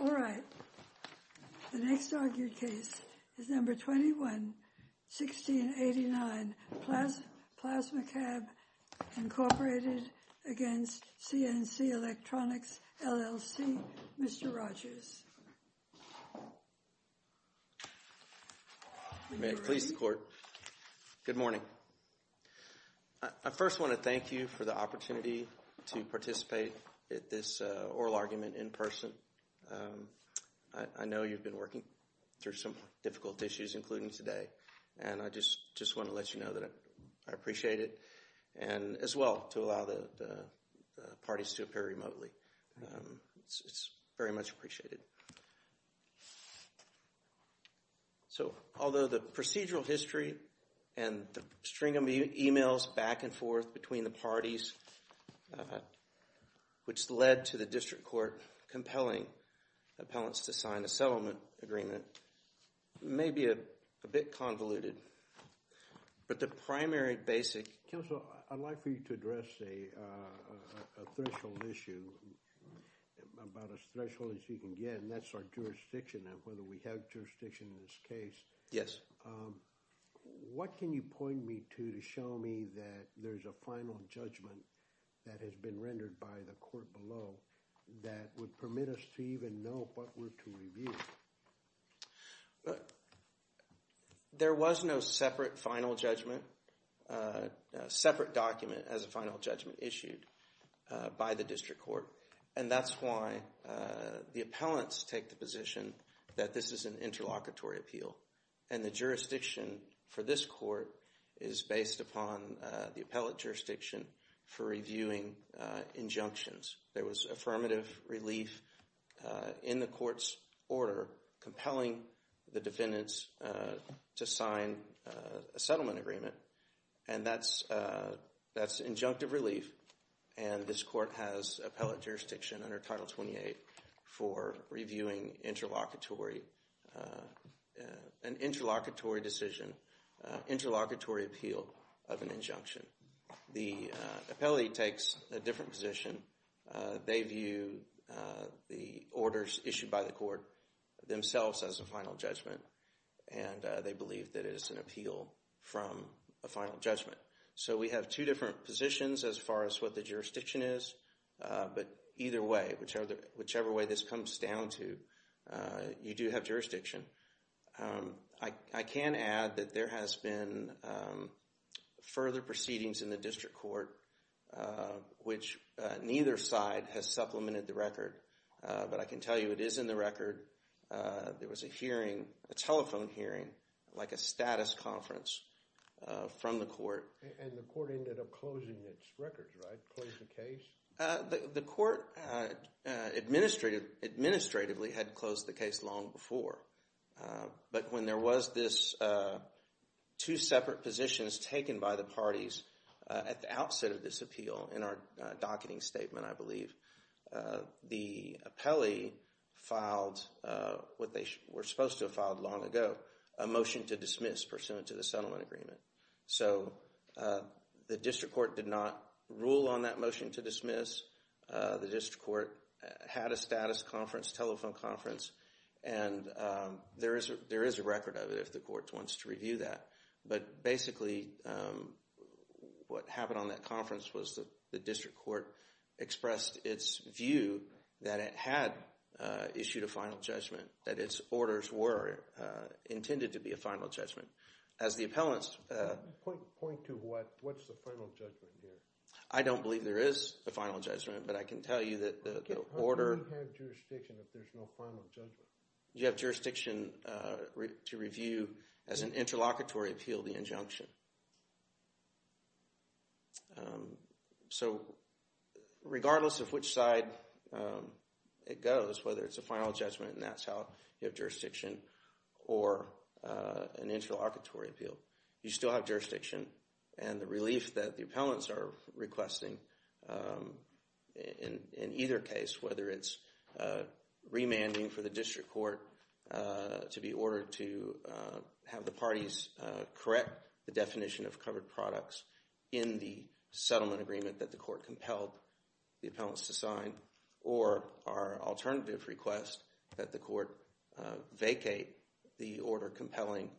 All right. The next argued case is No. 21-1689, PlasmaCAM, Inc. v. CNCElectronics, LLC. Mr. Rogers. May it please the Court. Good morning. I first want to thank you for the opportunity to participate at this oral argument in person. I know you've been working through some difficult issues, including today, and I just want to let you know that I appreciate it, and as well, to allow the parties to appear remotely. It's very much appreciated. So, although the procedural history and the string of emails back and forth between the parties, which led to the District Court compelling appellants to sign a settlement agreement, may be a bit convoluted, but the primary basic... Counselor, I'd like for you to address a threshold issue, about as threshold as you can get, and that's our jurisdiction, and whether we have jurisdiction in this case. Yes. What can you point me to to show me that there's a final judgment that has been rendered by the Court below that would permit us to even know what we're to review? There was no separate final judgment, separate document as a final judgment issued by the District Court, and that's why the appellants take the position that this is an interlocutory appeal, and the jurisdiction for this Court is based upon the appellant jurisdiction for injunctions. There was affirmative relief in the Court's order compelling the defendants to sign a settlement agreement, and that's injunctive relief, and this Court has appellant jurisdiction under Title 28 for reviewing an interlocutory decision, interlocutory appeal of an injunction. The appellee takes a different position. They view the orders issued by the Court themselves as a final judgment, and they believe that it is an appeal from a final judgment. So we have two different positions as far as what the jurisdiction is, but either way, whichever way this comes down to, you do have jurisdiction. I can add that there has been further proceedings in the District Court which neither side has supplemented the record, but I can tell you it is in the record. There was a hearing, a telephone hearing like a status conference from the Court. And the Court ended up closing its records, right? Closed the case? The Court administratively had closed the case long before, but when there was this two separate positions taken by the parties at the outset of this appeal, in our docketing statement I believe, the appellee filed what they were supposed to have filed long ago, a motion to dismiss pursuant to the settlement agreement. So the District Court did not rule on that motion to dismiss. The District Court had a status conference, telephone conference, and there is a record of it if the Court wants to review that. But basically what happened on that conference was the District Court expressed its view that it had issued a final judgment, that its orders were intended to be a final judgment. As the appellants... I believe there is a final judgment, but I can tell you that the order... How do you have jurisdiction if there's no final judgment? You have jurisdiction to review as an interlocutory appeal the injunction. So regardless of which side it goes, whether it's a final judgment, and that's how you have jurisdiction, or an interlocutory appeal, you still have jurisdiction. And the relief that the appellants are requesting in either case, whether it's remanding for the District Court to be ordered to have the parties correct the definition of covered products in the settlement agreement that the Court compelled the appellants to sign, or our alternative request that the Court vacate the order compelling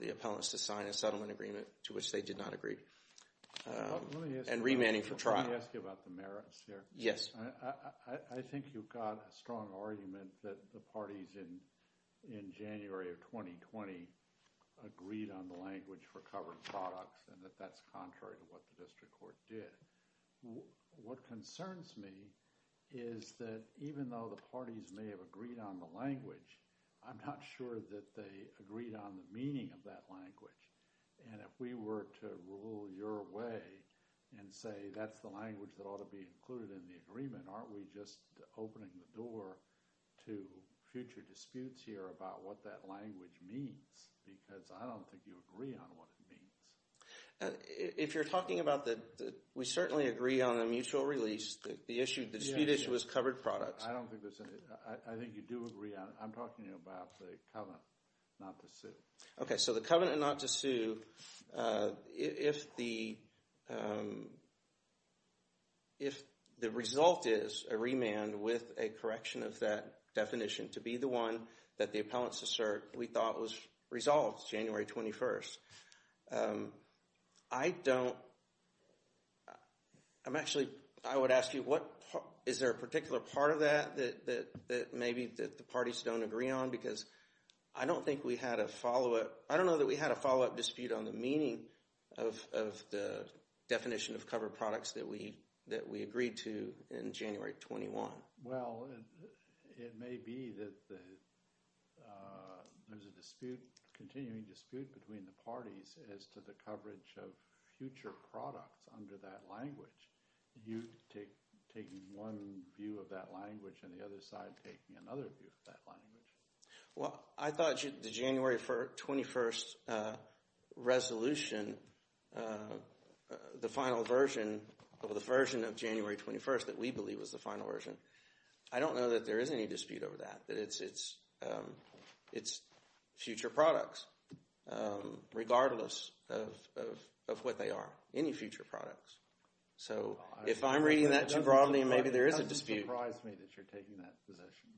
the appellants to sign a settlement agreement to which they did not agree, and remanding for trial. Let me ask you about the merits here. Yes. I think you've got a strong argument that the parties in January of 2020 agreed on the language for covered products, and that that's contrary to what the District Court did. What concerns me is that even though the parties may have agreed on the language, I'm not sure that they agreed on the meaning of that language. And if we were to rule your way and say that's the language that ought to be included in the agreement, aren't we just opening the door to future disputes here about what that language means? Because I don't think you agree on what it means. If you're talking about the, we certainly agree on a mutual release, the dispute issue is covered products. I think you do agree on, I'm talking about the covenant not to sue. Okay, so the covenant not to sue, if the result is a remand with a correction of that definition to be the one that the appellants assert we thought was resolved January 21st, I don't, I'm actually, I would ask you what, is there a particular part of that that maybe that the parties don't agree on? Because I don't think we had a follow-up, I don't know that we had a follow-up dispute on the meaning of the definition of covered products that we agreed to in January 21. Well, it may be that there's a dispute, continuing dispute between the parties as to the coverage of future products under that language. You taking one view of that language and the other side taking another view of that language. Well, I thought the January 21st resolution, the final version of the version of January 21st that we believe was the final version. I don't know that there is any dispute over that, that it's future products, regardless of what they are, any future products. So, if I'm reading that too broadly, maybe there is a dispute. It doesn't surprise me that you're taking that position.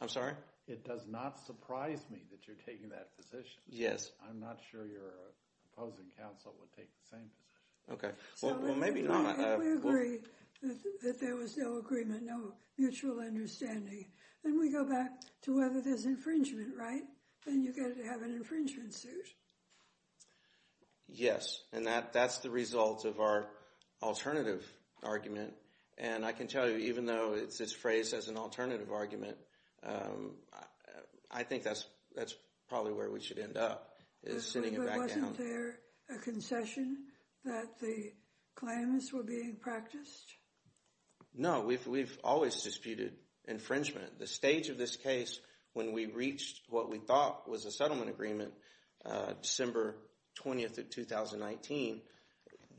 I'm sorry? It does not surprise me that you're taking that position. Yes. I'm not sure your opposing counsel would take the same position. Okay. Well, maybe not. If we agree that there was no agreement, no mutual understanding, then we go back to whether there's infringement, right? Then you get to have an infringement suit. Yes. And that's the result of our alternative argument. And I can tell you, even though it's phrased as an alternative argument, I think that's probably where we should end up. But wasn't there a concession that the claims were being practiced? No. We've always disputed infringement. The stage of this case, when we reached what we thought was a settlement agreement, December 20th of 2019,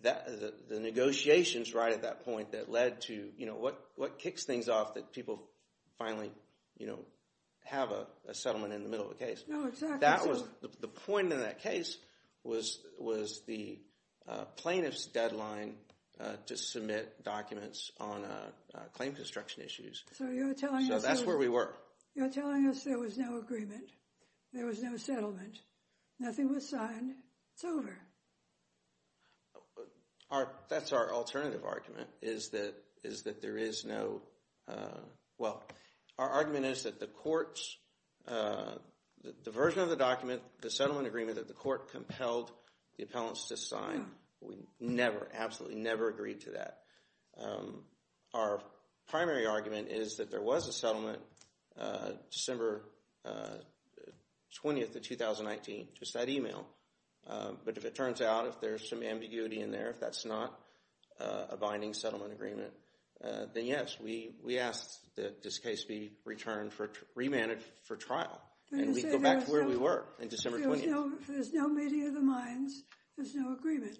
the negotiations right at that point that led to, you know, what kicks things off that people finally, you know, have a settlement in the middle of the case. No, exactly. And that was the point of that case was the plaintiff's deadline to submit documents on claim construction issues. So you're telling us... So that's where we were. You're telling us there was no agreement, there was no settlement, nothing was signed. It's over. That's our alternative argument, is that there is no... Well, our argument is that the court's... the version of the document, the settlement agreement that the court compelled the appellants to sign, we never, absolutely never agreed to that. Our primary argument is that there was a settlement December 20th of 2019, just that email. But if it turns out, if there's some ambiguity in there, if that's not a binding settlement agreement, then yes, we asked that this case be returned for... remanded for trial. And we'd go back to where we were in December 20th. There's no meeting of the minds, there's no agreement.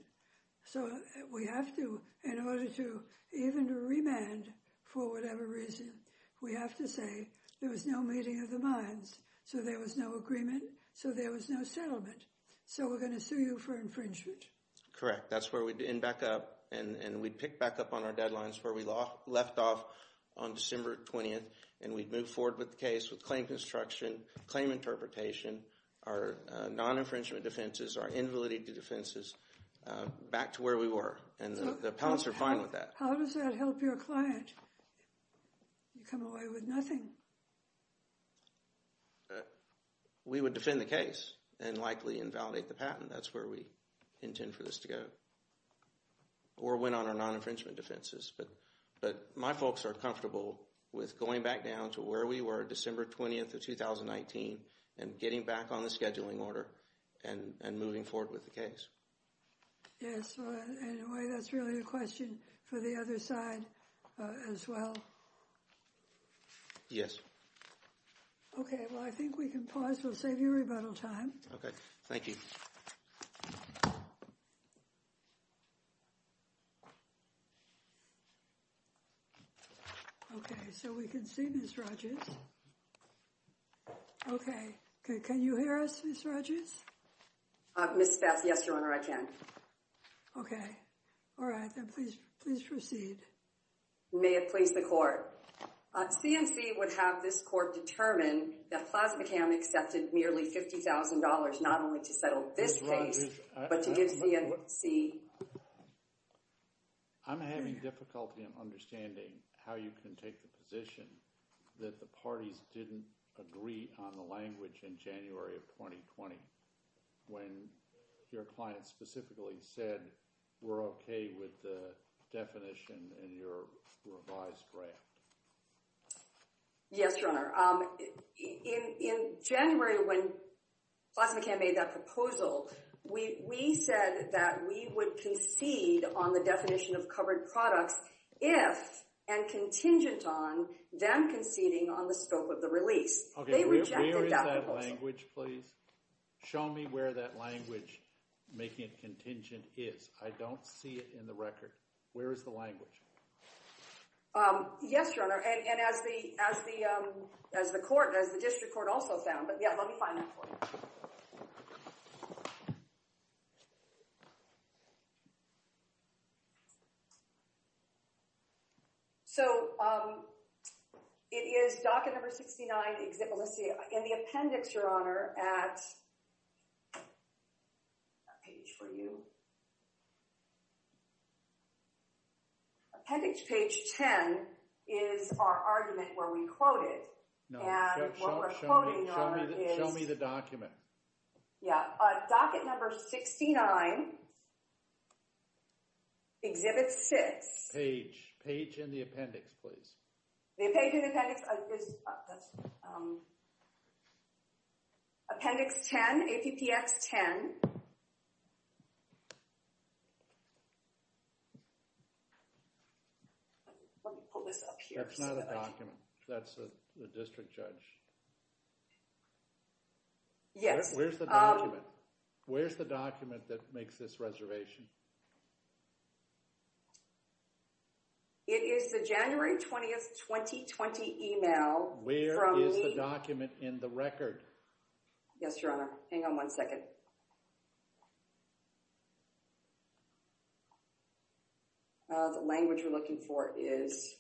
So we have to, in order to even remand for whatever reason, we have to say there was no meeting of the minds, so there was no agreement, so there was no settlement. So we're going to sue you for infringement. Correct. That's where we'd end back up, and we'd pick back up on our deadlines where we left off on December 20th, and we'd move forward with the case with claim construction, claim interpretation, our non-infringement defenses, our invalidity defenses, back to where we were. And the appellants are fine with that. How does that help your client? You come away with nothing. We would defend the case, and likely invalidate the patent. That's where we intend for this to go. Or win on our non-infringement defenses. But my folks are comfortable with going back down to where we were December 20th of 2019, and getting back on the scheduling order, and moving forward with the case. Yes, and that's really a question for the other side as well. Yes. Okay, well I think we can pause. We'll save you rebuttal time. Okay, thank you. Thank you. Okay, so we can see Ms. Rodgers. Okay, can you hear us, Ms. Rodgers? Ms. Spatz, yes, Your Honor, I can. Okay. All right, then please proceed. May it please the Court. C&C would have this court determine that PlasmaCam accepted nearly $50,000, not only to settle this case, but to give C&C. I'm having difficulty in understanding how you can take the position that the parties didn't agree on the language in January of 2020, when your client specifically said, we're okay with the definition in your revised draft. Yes, Your Honor. In January, when PlasmaCam made that proposal, we said that we would concede on the definition of covered products if, and contingent on, them conceding on the scope of the release. Okay, where is that language, please? Show me where that language, making it contingent, is. I don't see it in the record. Where is the language? Yes, Your Honor, and as the District Court also found, but yeah, let me find that for you. Thank you. So, it is docket number 69, Exit Melissia. In the appendix, Your Honor, at, that page for you. Appendix page 10 is our argument where we quote it. No, show me the document. Yeah, docket number 69, Exhibit 6. Page, page in the appendix, please. The page in the appendix is, that's, Appendix 10, APPX 10. Let me pull this up here. That's not a document. That's the district judge. Yes. Where's the document? Where's the document that makes this reservation? It is the January 20th, 2020 email from me. Where is the document in the record? Yes, Your Honor. Hang on one second. Okay. The language we're looking for is.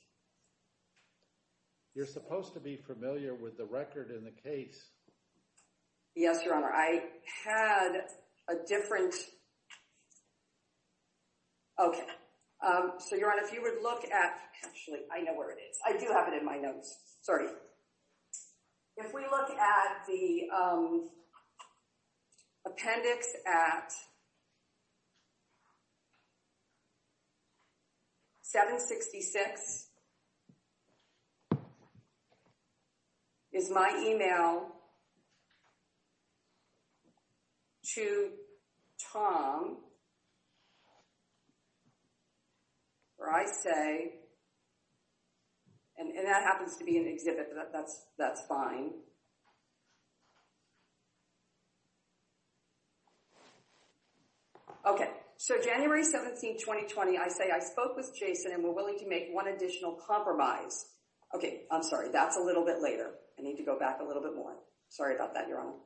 You're supposed to be familiar with the record in the case. Yes, Your Honor. I had a different. Okay. So, Your Honor, if you would look at, actually, I know where it is. I do have it in my notes. Sorry. If we look at the. Appendix at. 766. Is my email. To Tom. Or I say. And that happens to be an exhibit. That's fine. Okay. So, January 17, 2020, I say, I spoke with Jason, and we're willing to make one additional compromise. Okay. I'm sorry. That's a little bit later. Sorry about that, Your Honor. Okay.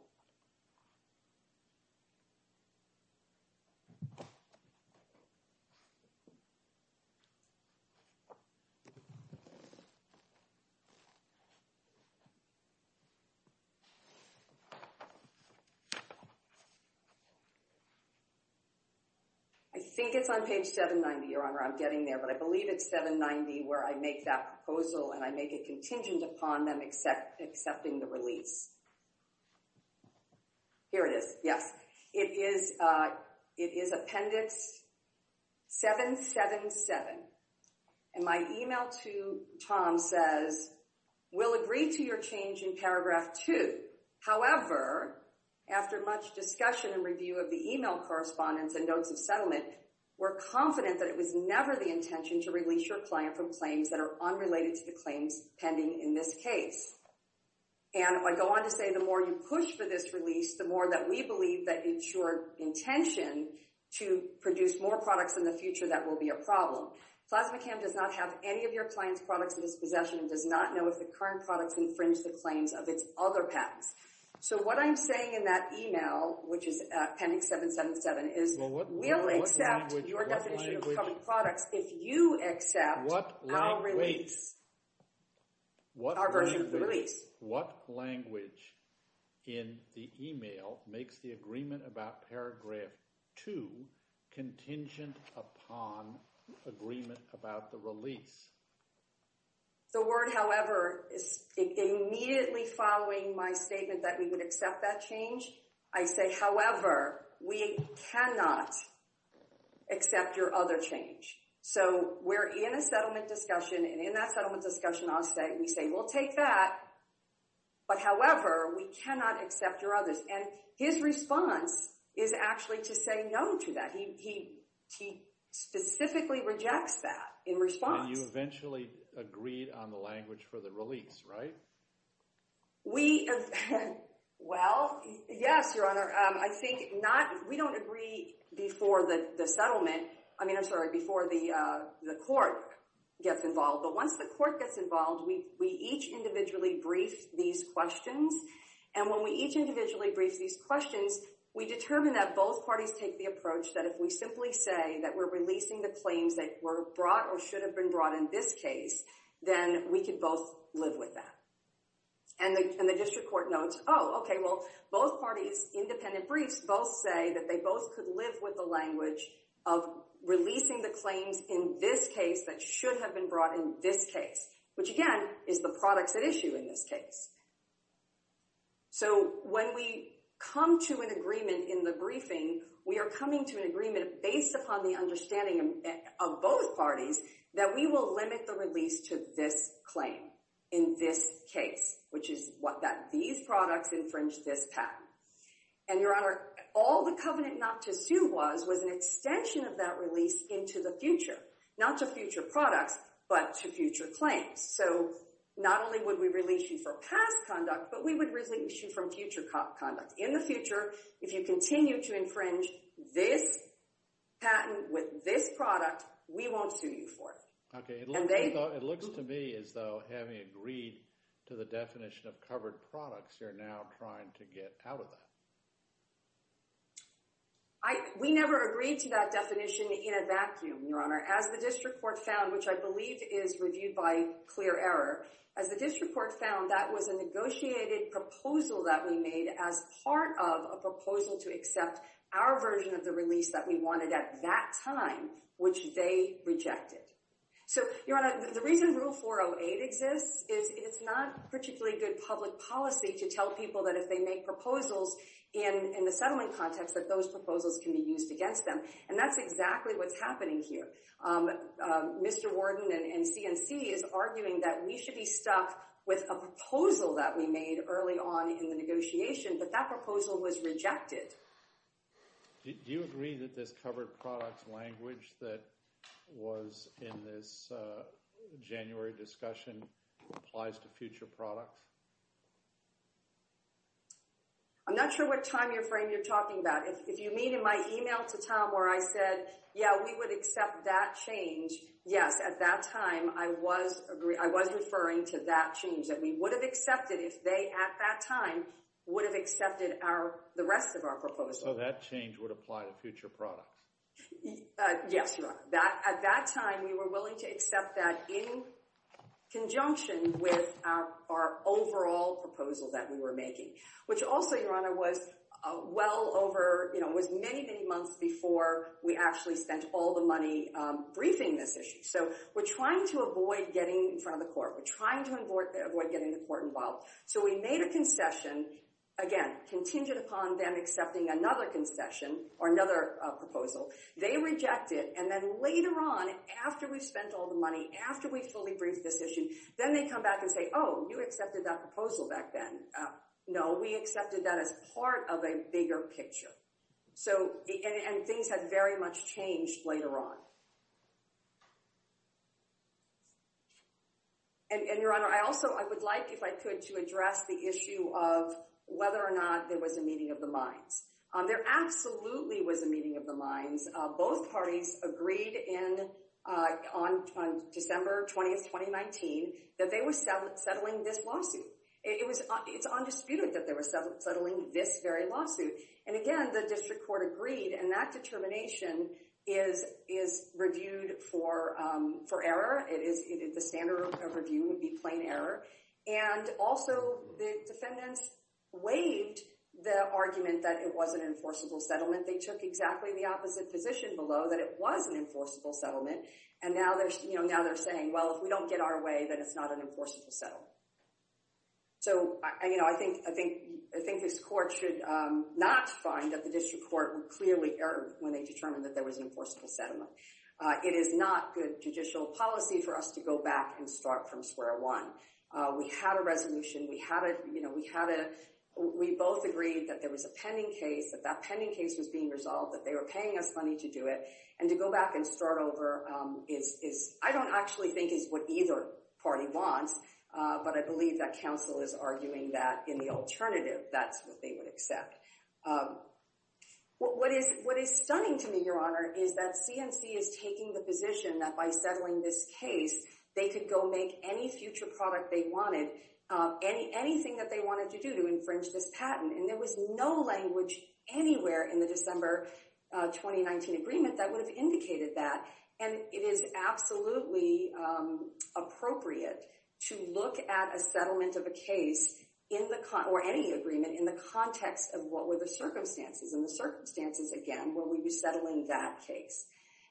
I think it's on page 790, Your Honor. I'm getting there, but I believe it's 790 where I make that proposal, and I make it contingent upon them except accepting the release. Here it is. Yes, it is. It is appendix. 777. And my email to Tom says, we'll agree to your change in paragraph two. However, after much discussion and review of the email correspondence and notes of settlement, we're confident that it was never the intention to release your client from claims that are unrelated to the claims pending in this case. And I go on to say, the more you push for this release, the more that we believe that it's your intention to produce more products in the future, that will be a problem. PlasmaChem does not have any of your client's products in its possession and does not know if the current products infringe the claims of its other patents. So what I'm saying in that email, which is appendix 777, is we'll accept your definition of coming products if you accept our release, our version of the release. What language in the email makes the agreement about paragraph two contingent upon agreement about the release? The word, however, is immediately following my statement that we would accept that change. I say, however, we cannot accept your other change. So we're in a settlement discussion. And in that settlement discussion, we say, we'll take that. But however, we cannot accept your others. And his response is actually to say no to that. He specifically rejects that in response. And you eventually agreed on the language for the release, right? We—well, yes, Your Honor. I think not—we don't agree before the settlement—I mean, I'm sorry, before the court gets involved. But once the court gets involved, we each individually brief these questions. And when we each individually brief these questions, we determine that both parties take the approach that if we simply say that we're releasing the claims that were brought or should have been brought in this case, then we could both live with that. And the district court notes, oh, okay, well, both parties' independent briefs both say that they both could live with the language of releasing the claims in this case that should have been brought in this case, which, again, is the products at issue in this case. So when we come to an agreement in the briefing, we are coming to an agreement based upon the understanding of both parties that we will limit the release to this claim in this case, which is that these products infringe this patent. And, Your Honor, all the covenant not to sue was was an extension of that release into the future, not to future products, but to future claims. So not only would we release you for past conduct, but we would release you from future conduct. In the future, if you continue to infringe this patent with this product, we won't sue you for it. Okay, it looks to me as though having agreed to the definition of covered products, you're now trying to get out of that. We never agreed to that definition in a vacuum, Your Honor, as the district court found, which I believe is reviewed by clear error. As the district court found, that was a negotiated proposal that we made as part of a proposal to accept our version of the release that we wanted at that time, which they rejected. So, Your Honor, the reason Rule 408 exists is it's not particularly good public policy to tell people that if they make proposals in the settlement context, that those proposals can be used against them. And that's exactly what's happening here. Mr. Warden and C&C is arguing that we should be stuck with a proposal that we made early on in the negotiation, but that proposal was rejected. Do you agree that this covered products language that was in this January discussion applies to future products? I'm not sure what time frame you're talking about. If you mean in my email to Tom where I said, yeah, we would accept that change. Yes, at that time, I was referring to that change that we would have accepted if they at that time would have accepted the rest of our proposal. So that change would apply to future products? Yes, Your Honor. At that time, we were willing to accept that in conjunction with our overall proposal that we were making. Which also, Your Honor, was many, many months before we actually spent all the money briefing this issue. So we're trying to avoid getting in front of the court. We're trying to avoid getting the court involved. So we made a concession, again, contingent upon them accepting another concession or another proposal. They reject it. And then later on, after we've spent all the money, after we've fully briefed this issue, then they come back and say, oh, you accepted that proposal back then. No, we accepted that as part of a bigger picture. And things have very much changed later on. And, Your Honor, I also would like, if I could, to address the issue of whether or not there was a meeting of the minds. There absolutely was a meeting of the minds. Both parties agreed on December 20th, 2019, that they were settling this lawsuit. It's undisputed that they were settling this very lawsuit. And again, the district court agreed. And that determination is reviewed for error. The standard of review would be plain error. And also, the defendants waived the argument that it was an enforceable settlement. They took exactly the opposite position below, that it was an enforceable settlement. And now they're saying, well, if we don't get our way, then it's not an enforceable settlement. So I think this court should not find that the district court would clearly err when they determined that there was an enforceable settlement. It is not good judicial policy for us to go back and start from square one. We had a resolution. We both agreed that there was a pending case, that that pending case was being resolved, that they were paying us money to do it. And to go back and start over, I don't actually think is what either party wants. But I believe that counsel is arguing that in the alternative, that's what they would accept. What is stunning to me, Your Honor, is that CNC is taking the position that by settling this case, they could go make any future product they wanted, anything that they wanted to do to infringe this patent. And there was no language anywhere in the December 2019 agreement that would have indicated that. And it is absolutely appropriate to look at a settlement of a case, or any agreement, in the context of what were the circumstances. And the circumstances, again, were we resettling that case.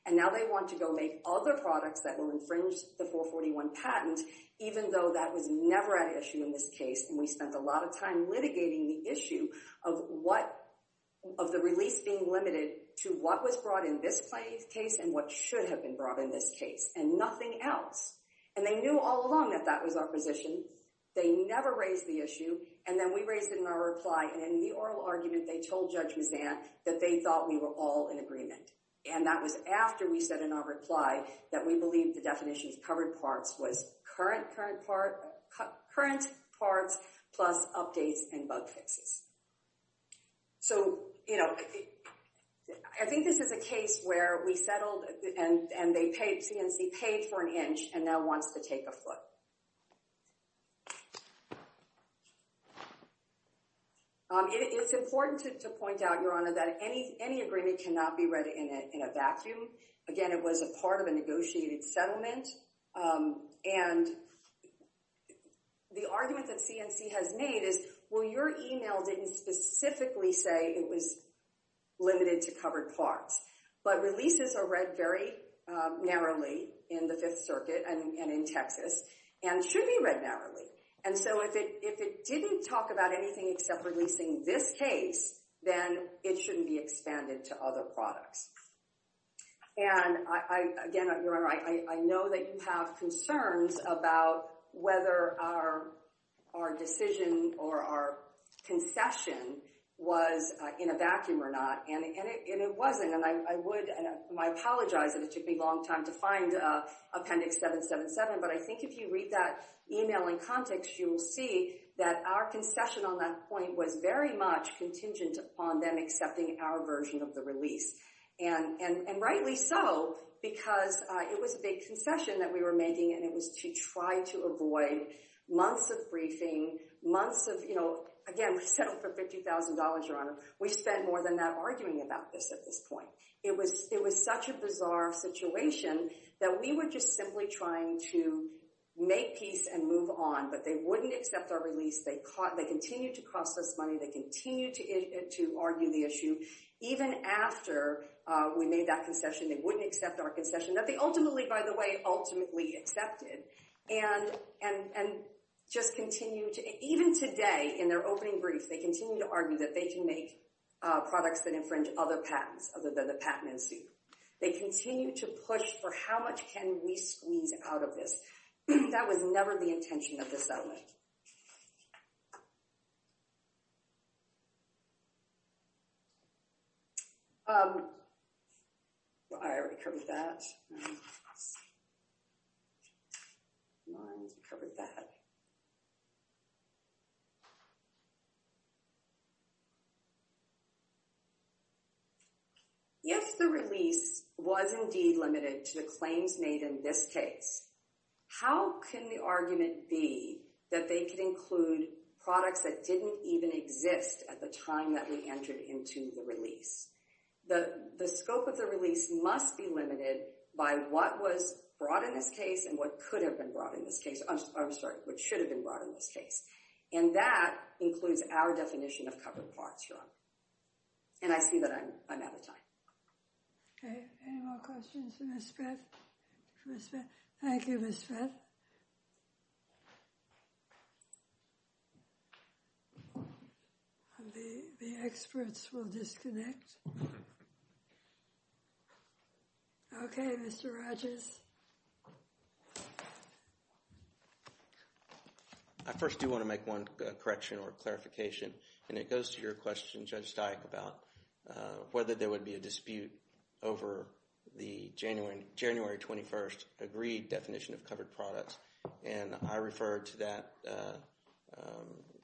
And now they want to go make other products that will infringe the 441 patent, even though that was never an issue in this case. And we spent a lot of time litigating the issue of the release being limited to what was brought in this case and what should have been brought in this case, and nothing else. And they knew all along that that was our position. They never raised the issue. And then we raised it in our reply. And in the oral argument, they told Judge Mazzant that they thought we were all in agreement. And that was after we said in our reply that we believed the definitions covered parts was current parts plus updates and bug fixes. So, you know, I think this is a case where we settled, and they paid, C&C paid for an inch, and now wants to take afloat. It's important to point out, Your Honor, that any agreement cannot be read in a vacuum. Again, it was a part of a negotiated settlement. And the argument that C&C has made is, well, your email didn't specifically say it was limited to covered parts. But releases are read very narrowly in the Fifth Circuit and in Texas. And should be read narrowly. And so if it didn't talk about anything except releasing this case, then it shouldn't be expanded to other products. And, again, Your Honor, I know that you have concerns about whether our decision or our concession was in a vacuum or not. And it wasn't. And I apologize that it took me a long time to find Appendix 777. But I think if you read that email in context, you will see that our concession on that point was very much contingent upon them accepting our version of the release. And rightly so, because it was a big concession that we were making, and it was to try to avoid months of briefing, months of, you know, again, we settled for $50,000, Your Honor. We spent more than that arguing about this at this point. It was such a bizarre situation that we were just simply trying to make peace and move on. But they wouldn't accept our release. They continued to cost us money. They continued to argue the issue. Even after we made that concession, they wouldn't accept our concession that they ultimately, by the way, ultimately accepted. And just continue to – even today, in their opening brief, they continue to argue that they can make products that infringe other patents, other than the patent in suit. They continue to push for how much can we squeeze out of this. That was never the intention of the settlement. I already covered that. I already covered that. If the release was indeed limited to the claims made in this case, how can the argument be that they could include products that didn't even exist at the time that we entered into the release? The scope of the release must be limited by what was brought in this case and what could have been brought in this case – I'm sorry, what should have been brought in this case. And that includes our definition of covered parts, Your Honor. And I see that I'm out of time. Any more questions for Ms. Speth? Thank you, Ms. Speth. Ms. Speth? The experts will disconnect. Okay, Mr. Rodgers. I first do want to make one correction or clarification, and it goes to your question, Judge Steik, about whether there would be a dispute over the January 21st agreed definition of covered products. And I referred to that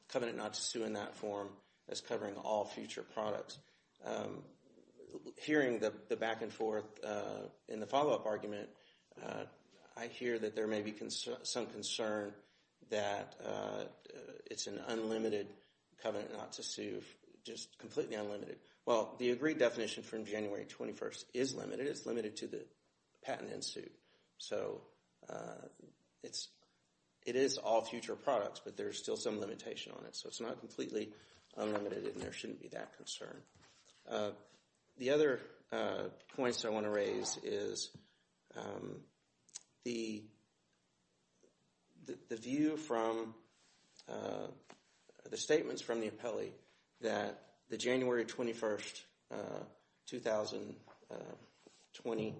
covenant not to sue in that form as covering all future products. Hearing the back and forth in the follow-up argument, I hear that there may be some concern that it's an unlimited covenant not to sue, just completely unlimited. Well, the agreed definition from January 21st is limited. It's limited to the patent in suit. So it is all future products, but there's still some limitation on it. So it's not completely unlimited, and there shouldn't be that concern. The other point I want to raise is the view from the statements from the appellee that the January 21st, 2020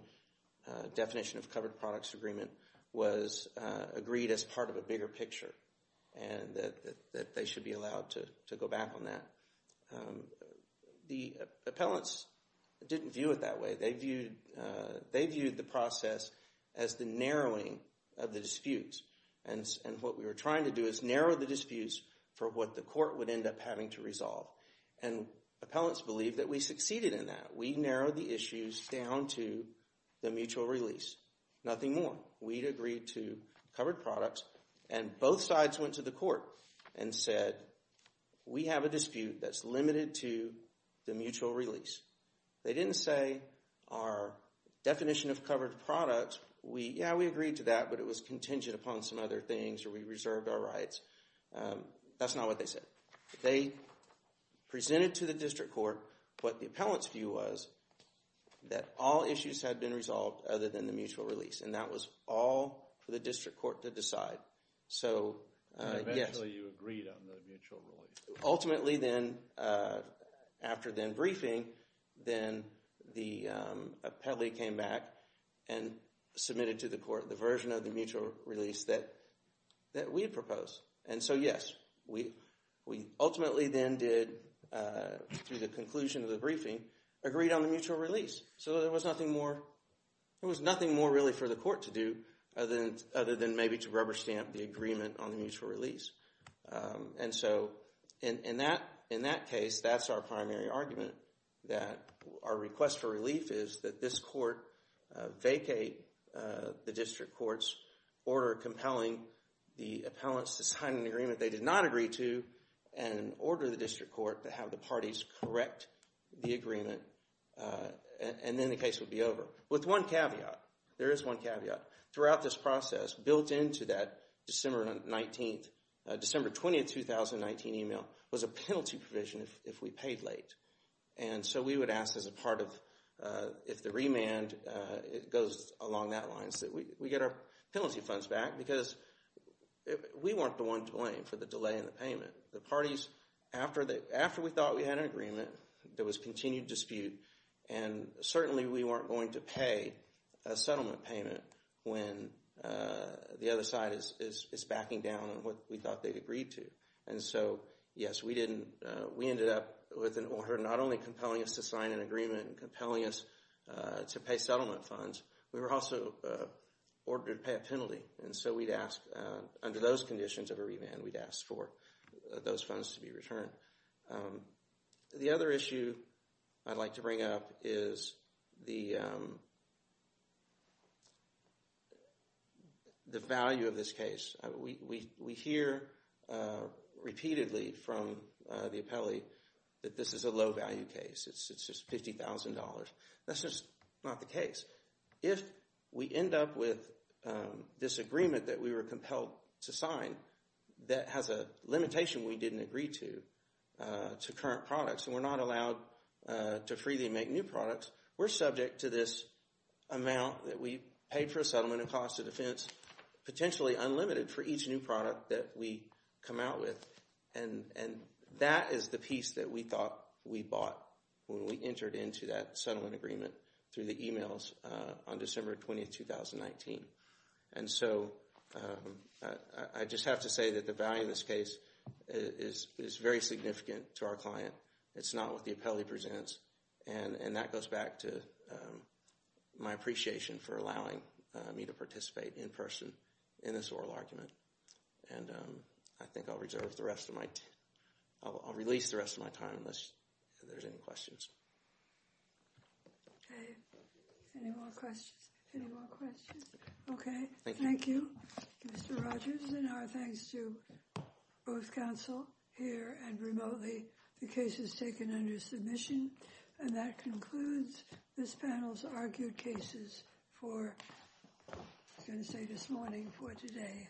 definition of covered products agreement was agreed as part of a bigger picture and that they should be allowed to go back on that. The appellants didn't view it that way. They viewed the process as the narrowing of the disputes. And what we were trying to do is narrow the disputes for what the court would end up having to resolve. And appellants believe that we succeeded in that. We narrowed the issues down to the mutual release, nothing more. We agreed to covered products, and both sides went to the court and said, we have a dispute that's limited to the mutual release. They didn't say our definition of covered products, yeah, we agreed to that, but it was contingent upon some other things or we reserved our rights. That's not what they said. They presented to the district court what the appellant's view was, that all issues had been resolved other than the mutual release. And that was all for the district court to decide. So, yes. Eventually you agreed on the mutual release. Ultimately then, after then briefing, then the appellee came back and submitted to the court the version of the mutual release that we had proposed. And so, yes, we ultimately then did, through the conclusion of the briefing, agreed on the mutual release. So there was nothing more really for the court to do other than maybe to rubber stamp the agreement on the mutual release. And so in that case, that's our primary argument, that our request for relief is that this court vacate the district court's order compelling the appellants to sign an agreement they did not agree to and order the district court to have the parties correct the agreement, and then the case would be over. With one caveat, there is one caveat. Throughout this process, built into that December 19th, December 20th, 2019 email was a penalty provision if we paid late. And so we would ask as a part of, if the remand goes along that line, that we get our penalty funds back because we weren't the ones blamed for the delay in the payment. After we thought we had an agreement, there was continued dispute, and certainly we weren't going to pay a settlement payment when the other side is backing down on what we thought they'd agreed to. And so, yes, we ended up with an order not only compelling us to sign an agreement and compelling us to pay settlement funds, we were also ordered to pay a penalty. And so we'd ask, under those conditions of a remand, we'd ask for those funds to be returned. The other issue I'd like to bring up is the value of this case. We hear repeatedly from the appellee that this is a low value case. It's just $50,000. That's just not the case. If we end up with this agreement that we were compelled to sign that has a limitation we didn't agree to, to current products, and we're not allowed to freely make new products, we're subject to this amount that we paid for a settlement in cost of defense, potentially unlimited for each new product that we come out with. And that is the piece that we thought we bought when we entered into that settlement agreement through the emails on December 20, 2019. And so I just have to say that the value of this case is very significant to our client. It's not what the appellee presents, and that goes back to my appreciation for allowing me to participate in person in this oral argument. And I think I'll reserve the rest of my time. I'll release the rest of my time unless there's any questions. Okay. Any more questions? Any more questions? Okay. Thank you, Mr. Rogers, and our thanks to both counsel here and remotely. The case is taken under submission. And that concludes this panel's argued cases for going to say this morning for today.